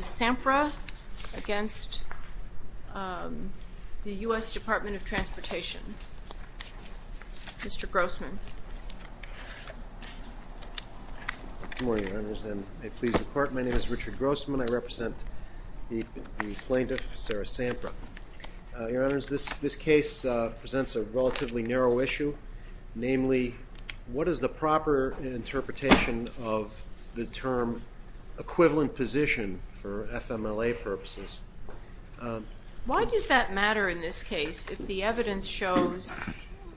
Sampra v. U.S. Department of Transportation Mr. Grossman. Good morning, Your Honors, and may it please the Court, my name is Richard Grossman. I represent the plaintiff, Sarah Sampra. Your Honors, this case presents a relatively narrow issue. Namely, what is the proper interpretation of the term equivalent position for FMLA purposes? Why does that matter in this case if the evidence shows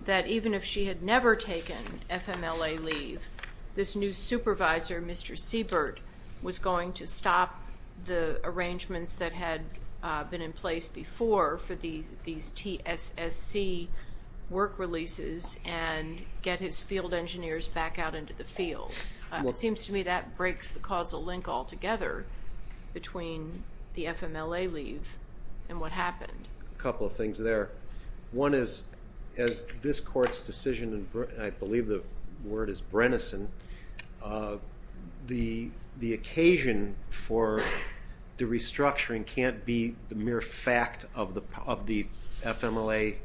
that even if she had never taken FMLA leave, this new supervisor, Mr. Siebert, was going to stop the arrangements that had been in place before for these TSSC work releases and get his field engineers back out into the field? It seems to me that breaks the causal link altogether between the FMLA leave and what happened. A couple of things there. One is, as this Court's decision, and I believe the word is Brennison, the occasion for the restructuring can't be the mere fact of the FMLA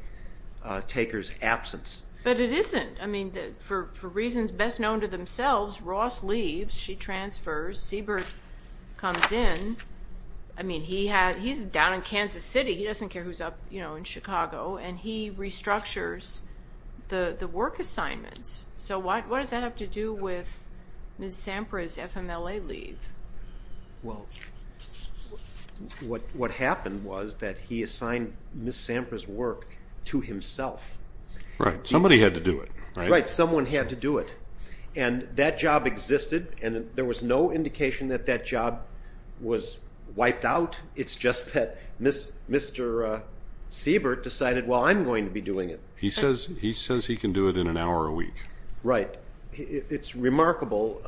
taker's absence. But it isn't. For reasons best known to themselves, Ross leaves, she transfers, Siebert comes in, he's down in Kansas City, he doesn't care who's up in Chicago, and he restructures the work assignments. So what does that have to do with Ms. Sampra's FMLA leave? Well, what happened was that he assigned Ms. Sampra's work to himself. Right. Somebody had to do it. Right. Someone had to do it. And that job existed, and there was no indication that that job was wiped out. It's just that Mr. Siebert decided, well, I'm going to be doing it. He says he can do it in an hour a week. Right. It's remarkable,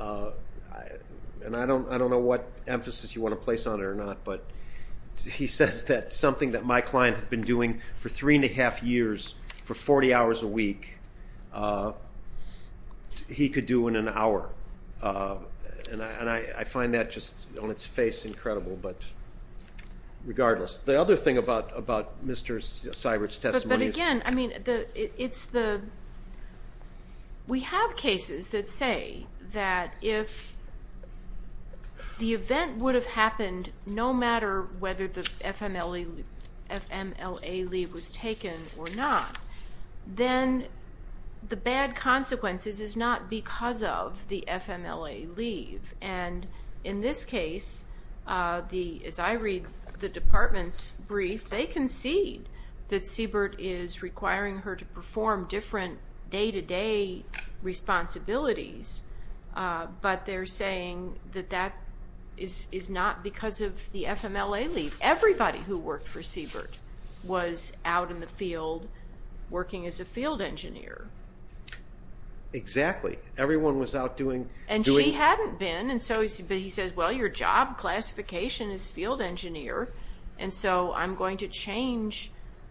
and I don't know what emphasis you want to place on it or not, but he says that something that my client had been doing for three and a half years, for 40 hours a week, he could do in an hour. And I find that just on its face incredible, but regardless. The other thing about Mr. Siebert's testimony is... But again, I mean, we have cases that say that if the event would have happened no matter whether the FMLA leave was taken or not, then the bad consequences is not because of the FMLA leave. And in this case, as I read the department's brief, they concede that Siebert is requiring her to perform different day-to-day responsibilities, but they're saying that that is not because of the FMLA leave. Everybody who worked for Siebert was out in the field working as a field engineer. Exactly. Everyone was out doing... And she hadn't been, but he says, well, your job classification is field engineer, and so I'm going to change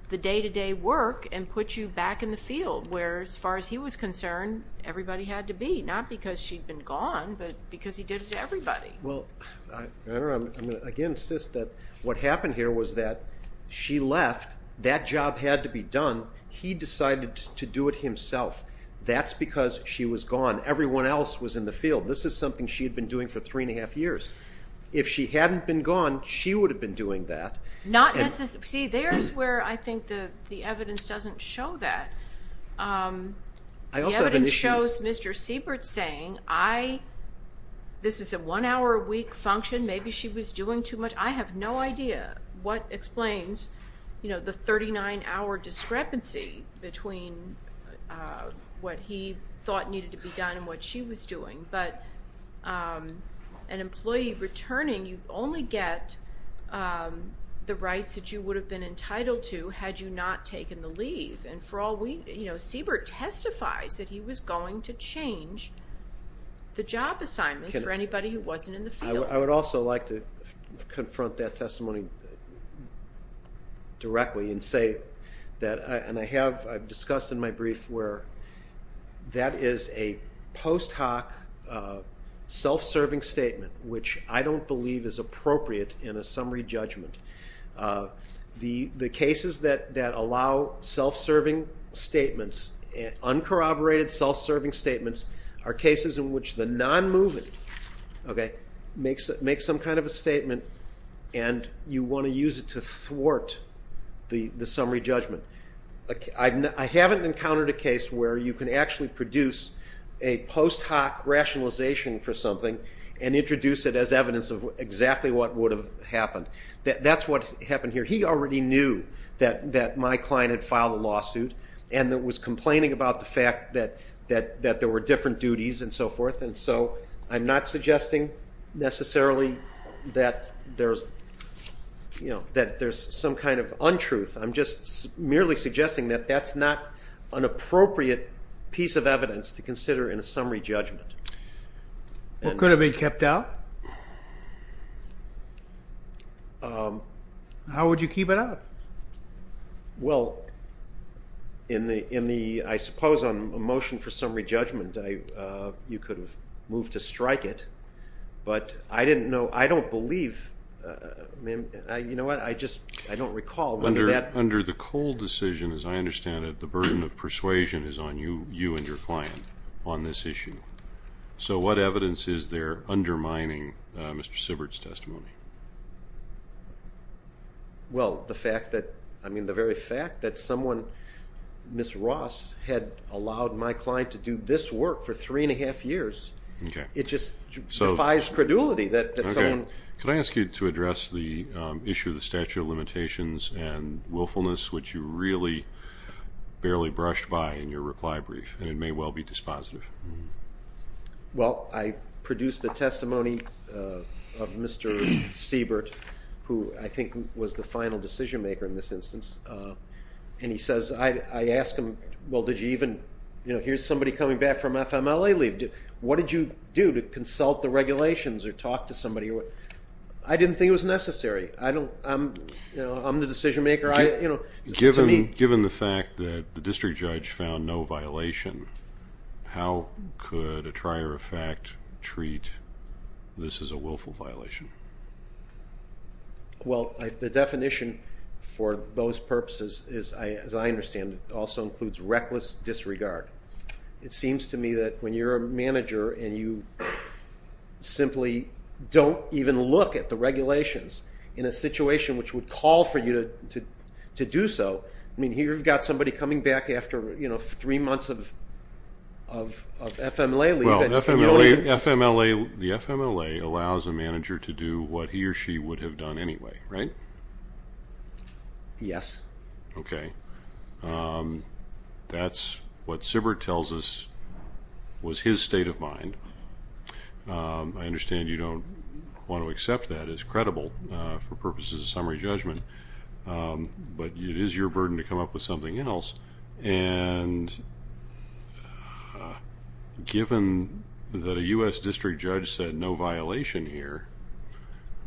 the day-to-day work and put you back in the field, where as far as he was concerned, everybody had to be. Not because she'd been gone, but because he did it to everybody. Well, I'm going to again insist that what happened here was that she left, that job had to be done, he decided to do it himself. That's because she was gone. Everyone else was in the field. This is something she had been doing for three and a half years. If she hadn't been gone, she would have been doing that. See, there's where I think the evidence doesn't show that. The evidence shows Mr. Siebert saying, this is a one-hour a week function, maybe she was doing too much. I have no idea what explains the 39-hour discrepancy between what he thought needed to be done and what she was doing. But an employee returning, you only get the rights that you would have been entitled to had you not taken the leave. Siebert testifies that he was going to change the job assignments for anybody who wasn't in the field. I would also like to confront that testimony directly and say that I have discussed in my brief where that is a post hoc, self-serving statement, which I don't believe is appropriate in a summary judgment. The cases that allow uncorroborated self-serving statements are cases in which the non-moving makes some kind of a statement and you want to use it to thwart the summary judgment. I haven't encountered a case where you can actually produce a post hoc rationalization for something and introduce it as evidence of exactly what would have happened. That's what happened here. He already knew that my client had filed a lawsuit and was complaining about the fact that there were different duties and so forth. I'm not suggesting necessarily that there's some kind of untruth. I'm just merely suggesting that that's not an appropriate piece of evidence to consider in a summary judgment. What could have been kept out? How would you keep it out? Well, I suppose on a motion for summary judgment you could have moved to strike it, but I don't believe, you know what, I just don't recall whether that... So what evidence is there undermining Mr. Sibbert's testimony? Well, the very fact that someone, Ms. Ross, had allowed my client to do this work for three and a half years, it just defies credulity that someone... Could I ask you to address the issue of the statute of limitations and willfulness, which you really barely brushed by in your reply brief, and it may well be dispositive. Well, I produced the testimony of Mr. Sibbert, who I think was the final decision-maker in this instance, and I asked him, well, here's somebody coming back from FMLA leave. What did you do to consult the regulations or talk to somebody? I didn't think it was necessary. I'm the decision-maker. Given the fact that the district judge found no violation, how could a trier of fact treat this as a willful violation? Well, the definition for those purposes, as I understand it, also includes reckless disregard. It seems to me that when you're a manager and you simply don't even look at the regulations in a situation which would call for you to do so, I mean, here you've got somebody coming back after three months of FMLA leave. Well, the FMLA allows a manager to do what he or she would have done anyway, right? Yes. Okay. That's what Sibbert tells us was his state of mind. I understand you don't want to accept that as credible for purposes of summary judgment, but it is your burden to come up with something else. And given that a U.S. district judge said no violation here,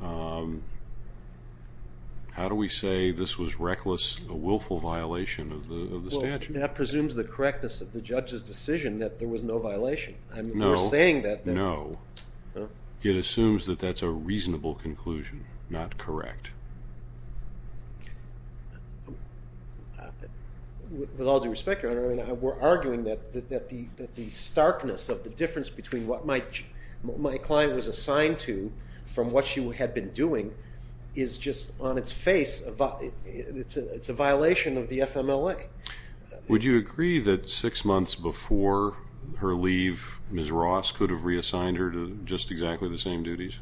how do we say this was reckless, a willful violation of the statute? Well, that presumes the correctness of the judge's decision that there was no violation. No. We're saying that there was. No. It assumes that that's a reasonable conclusion, not correct. With all due respect, Your Honor, we're arguing that the starkness of the difference between what my client was assigned to from what she had been doing is just on its face a violation of the FMLA. Would you agree that six months before her leave, Ms. Ross could have reassigned her to just exactly the same duties?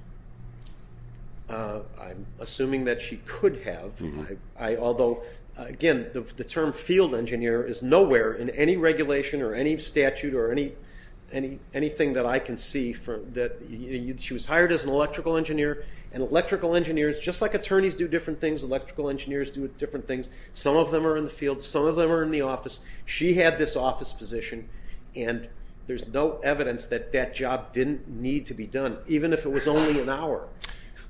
I'm assuming that she could have, although, again, the term field engineer is nowhere in any regulation or any statute or anything that I can see. She was hired as an electrical engineer, and electrical engineers, just like attorneys do different things, electrical engineers do different things. Some of them are in the field, some of them are in the office. She had this office position, and there's no evidence that that job didn't need to be done, even if it was only an hour.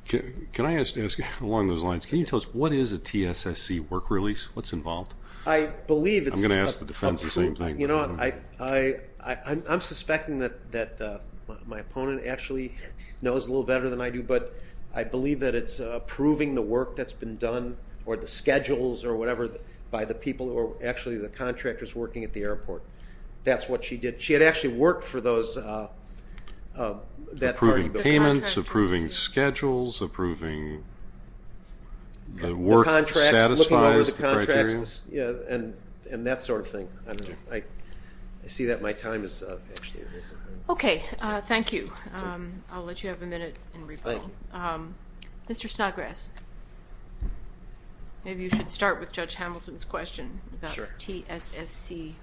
Can I ask along those lines, can you tell us what is a TSSC work release? What's involved? I believe it's a proof. I'm going to ask the defense the same thing. You know what, I'm suspecting that my opponent actually knows a little better than I do, but I believe that it's approving the work that's been done or the schedules or whatever by the people or actually the contractors working at the airport. That's what she did. She had actually worked for that party. Approving payments, approving schedules, approving the work that satisfies the criteria. And that sort of thing. I see that my time is up. Okay. Thank you. I'll let you have a minute in rebuttal. Mr. Snodgrass, maybe you should start with Judge Hamilton's question about TSSC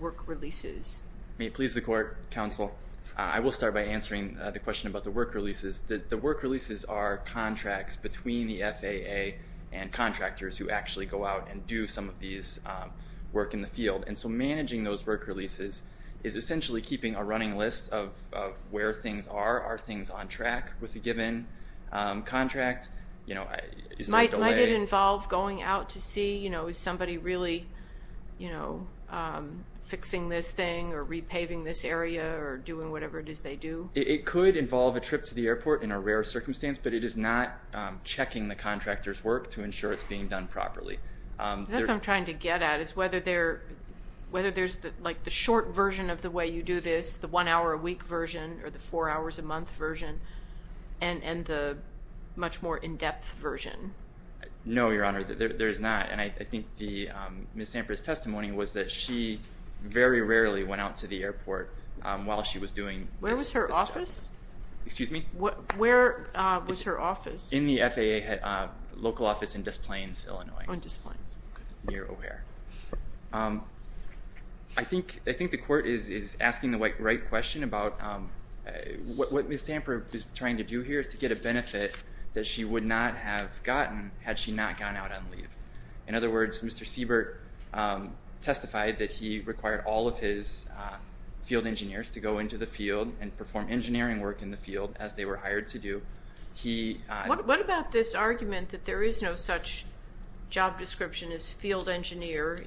work releases. May it please the Court, Counsel, I will start by answering the question about the work releases. The work releases are contracts between the FAA and contractors who actually go out and do some of these work in the field. And so managing those work releases is essentially keeping a running list of where things are. Are things on track with the given contract? You know, is there a delay? Might it involve going out to see, you know, is somebody really, you know, fixing this thing or repaving this area or doing whatever it is they do? It could involve a trip to the airport in a rare circumstance, but it is not checking the contractor's work to ensure it's being done properly. That's what I'm trying to get at is whether there's, like, the short version of the way you do this, the one hour a week version or the four hours a month version, and the much more in-depth version. No, Your Honor, there is not. And I think Ms. Zamper's testimony was that she very rarely went out to the airport while she was doing this job. Where was her office? Excuse me? Where was her office? In the FAA local office in Des Plaines, Illinois. On Des Plaines. Near O'Hare. I think the Court is asking the right question about what Ms. Zamper is trying to do here is to get a benefit that she would not have gotten had she not gone out on leave. In other words, Mr. Siebert testified that he required all of his field engineers to go into the field and perform engineering work in the field as they were hired to do. What about this argument that there is no such job description as field engineer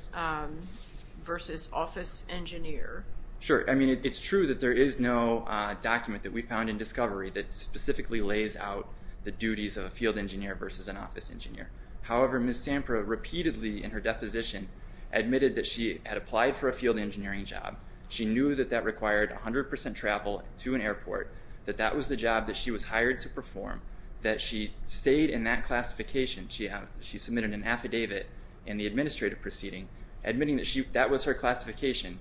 versus office engineer? Sure. I mean, it's true that there is no document that we found in Discovery that specifically lays out the duties of a field engineer versus an office engineer. However, Ms. Zamper repeatedly in her deposition admitted that she had applied for a field engineering job. She knew that that required 100% travel to an airport, that that was the job that she was hired to perform, that she stayed in that classification. She submitted an affidavit in the administrative proceeding admitting that that was her classification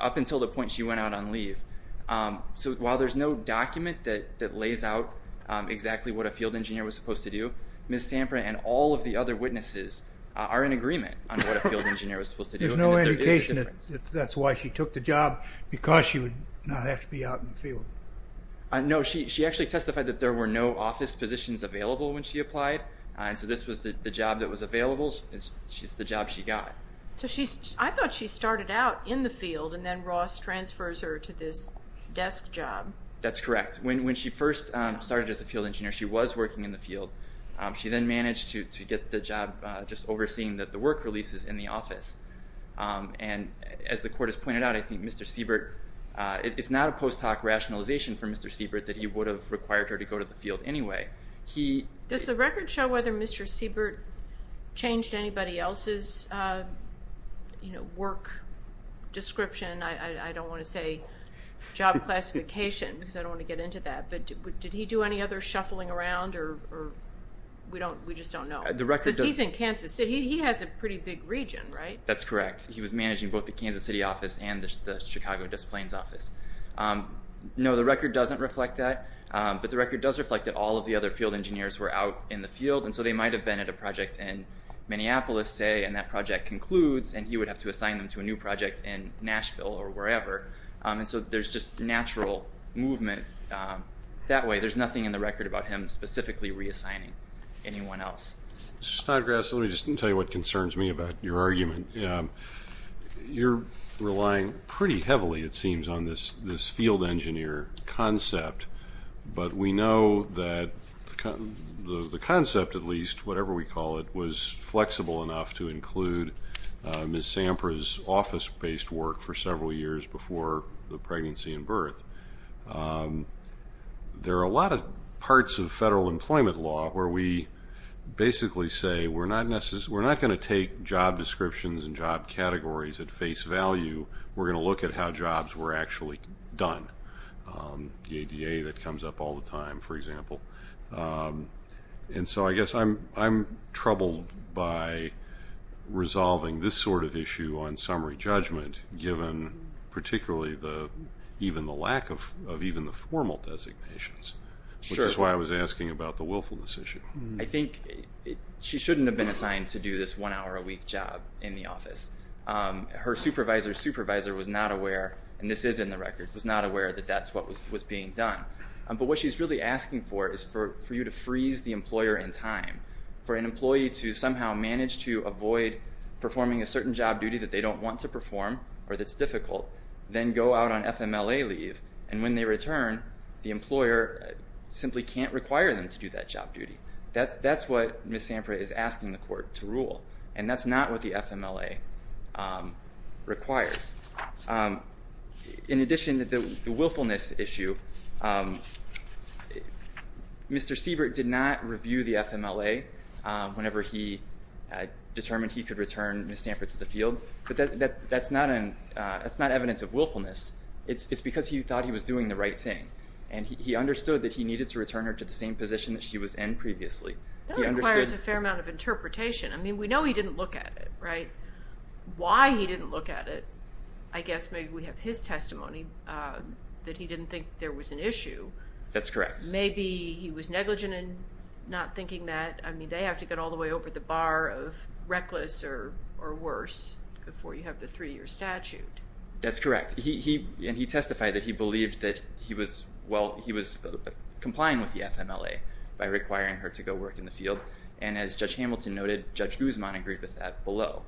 up until the point she went out on leave. So while there's no document that lays out exactly what a field engineer was supposed to do, Ms. Zamper and all of the other witnesses are in agreement on what a field engineer was supposed to do. There's no indication that that's why she took the job because she would not have to be out in the field. No. She actually testified that there were no office positions available when she applied, and so this was the job that was available. It's the job she got. So I thought she started out in the field and then Ross transfers her to this desk job. That's correct. When she first started as a field engineer, she was working in the field. She then managed to get the job just overseeing the work releases in the office. And as the Court has pointed out, I think Mr. Siebert, it's not a post hoc rationalization for Mr. Siebert that he would have required her to go to the field anyway. Does the record show whether Mr. Siebert changed anybody else's work description? I don't want to say job classification because I don't want to get into that, but did he do any other shuffling around or we just don't know? Because he's in Kansas City. He has a pretty big region, right? That's correct. He was managing both the Kansas City office and the Chicago Disciplines office. No, the record doesn't reflect that, but the record does reflect that all of the other field engineers were out in the field, and so they might have been at a project in Minneapolis, say, and that project concludes and he would have to assign them to a new project in Nashville or wherever. And so there's just natural movement that way. There's nothing in the record about him specifically reassigning anyone else. Mr. Snodgrass, let me just tell you what concerns me about your argument. You're relying pretty heavily, it seems, on this field engineer concept, but we know that the concept, at least, whatever we call it, was flexible enough to include Ms. Sampras' office-based work for several years before the pregnancy and birth. There are a lot of parts of federal employment law where we basically say we're not going to take job descriptions and job categories at face value. We're going to look at how jobs were actually done, the ADA that comes up all the time, for example. And so I guess I'm troubled by resolving this sort of issue on summary judgment, given particularly even the lack of even the formal designations, which is why I was asking about the willfulness issue. I think she shouldn't have been assigned to do this one-hour-a-week job in the office. Her supervisor's supervisor was not aware, and this is in the record, was not aware that that's what was being done. But what she's really asking for is for you to freeze the employer in time, for an employee to somehow manage to avoid performing a certain job duty that they don't want to perform or that's difficult, then go out on FMLA leave, and when they return, the employer simply can't require them to do that job duty. That's what Ms. Sampra is asking the court to rule, and that's not what the FMLA requires. In addition, the willfulness issue, Mr. Siebert did not review the FMLA whenever he determined he could return Ms. Sampra to the field, but that's not evidence of willfulness. It's because he thought he was doing the right thing, and he understood that he needed to return her to the same position that she was in previously. That requires a fair amount of interpretation. I mean, we know he didn't look at it, right? Why he didn't look at it, I guess maybe we have his testimony, that he didn't think there was an issue. That's correct. Maybe he was negligent in not thinking that. I mean, they have to get all the way over the bar of reckless or worse before you have the three-year statute. That's correct. And he testified that he believed that he was complying with the FMLA by requiring her to go work in the field. And as Judge Hamilton noted, Judge Guzman agreed with that below.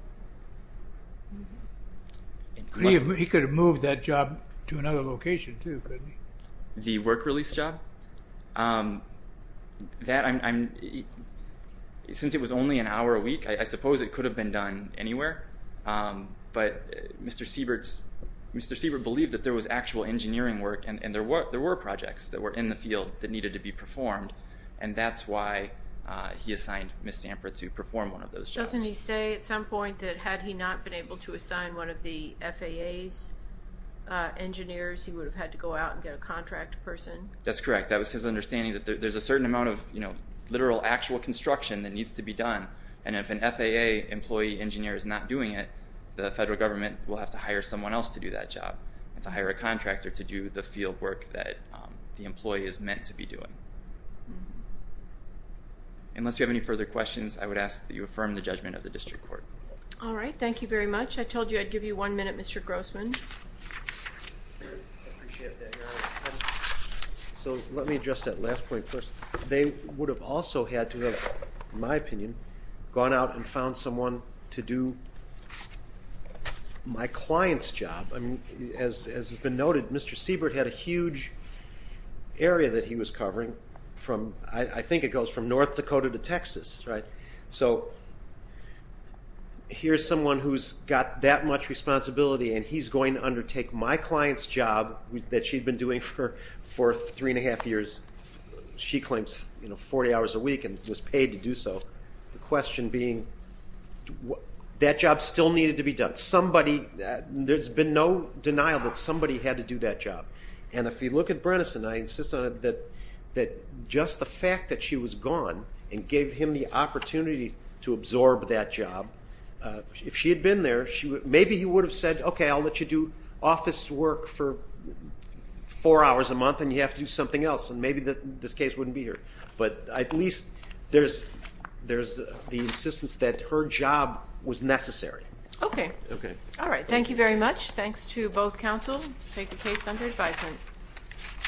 He could have moved that job to another location too, couldn't he? The work release job? Since it was only an hour a week, I suppose it could have been done anywhere. But Mr. Siebert believed that there was actual engineering work and there were projects that were in the field that needed to be performed, and that's why he assigned Ms. Samper to perform one of those jobs. Doesn't he say at some point that had he not been able to assign one of the FAA's engineers, he would have had to go out and get a contract person? That's correct. That was his understanding that there's a certain amount of literal, actual construction that needs to be done, and if an FAA employee engineer is not doing it, the federal government will have to hire someone else to do that job and to hire a contractor to do the field work that the employee is meant to be doing. Unless you have any further questions, I would ask that you affirm the judgment of the district court. All right. Thank you very much. I told you I'd give you one minute, Mr. Grossman. Let me address that last point first. They would have also had to have, in my opinion, gone out and found someone to do my client's job. As has been noted, Mr. Siebert had a huge area that he was covering from, I think it goes from North Dakota to Texas, right? So here's someone who's got that much responsibility and he's going to undertake my client's job that she'd been doing for three and a half years, she claims 40 hours a week and was paid to do so, the question being that job still needed to be done. There's been no denial that somebody had to do that job. And if you look at Brennison, I insist on it that just the fact that she was gone and gave him the opportunity to absorb that job, if she had been there, maybe he would have said, okay, I'll let you do office work for four hours a month and you have to do something else and maybe this case wouldn't be here. But at least there's the insistence that her job was necessary. Okay. All right. Thank you very much. Thanks to both counsel. Take the case under advisement.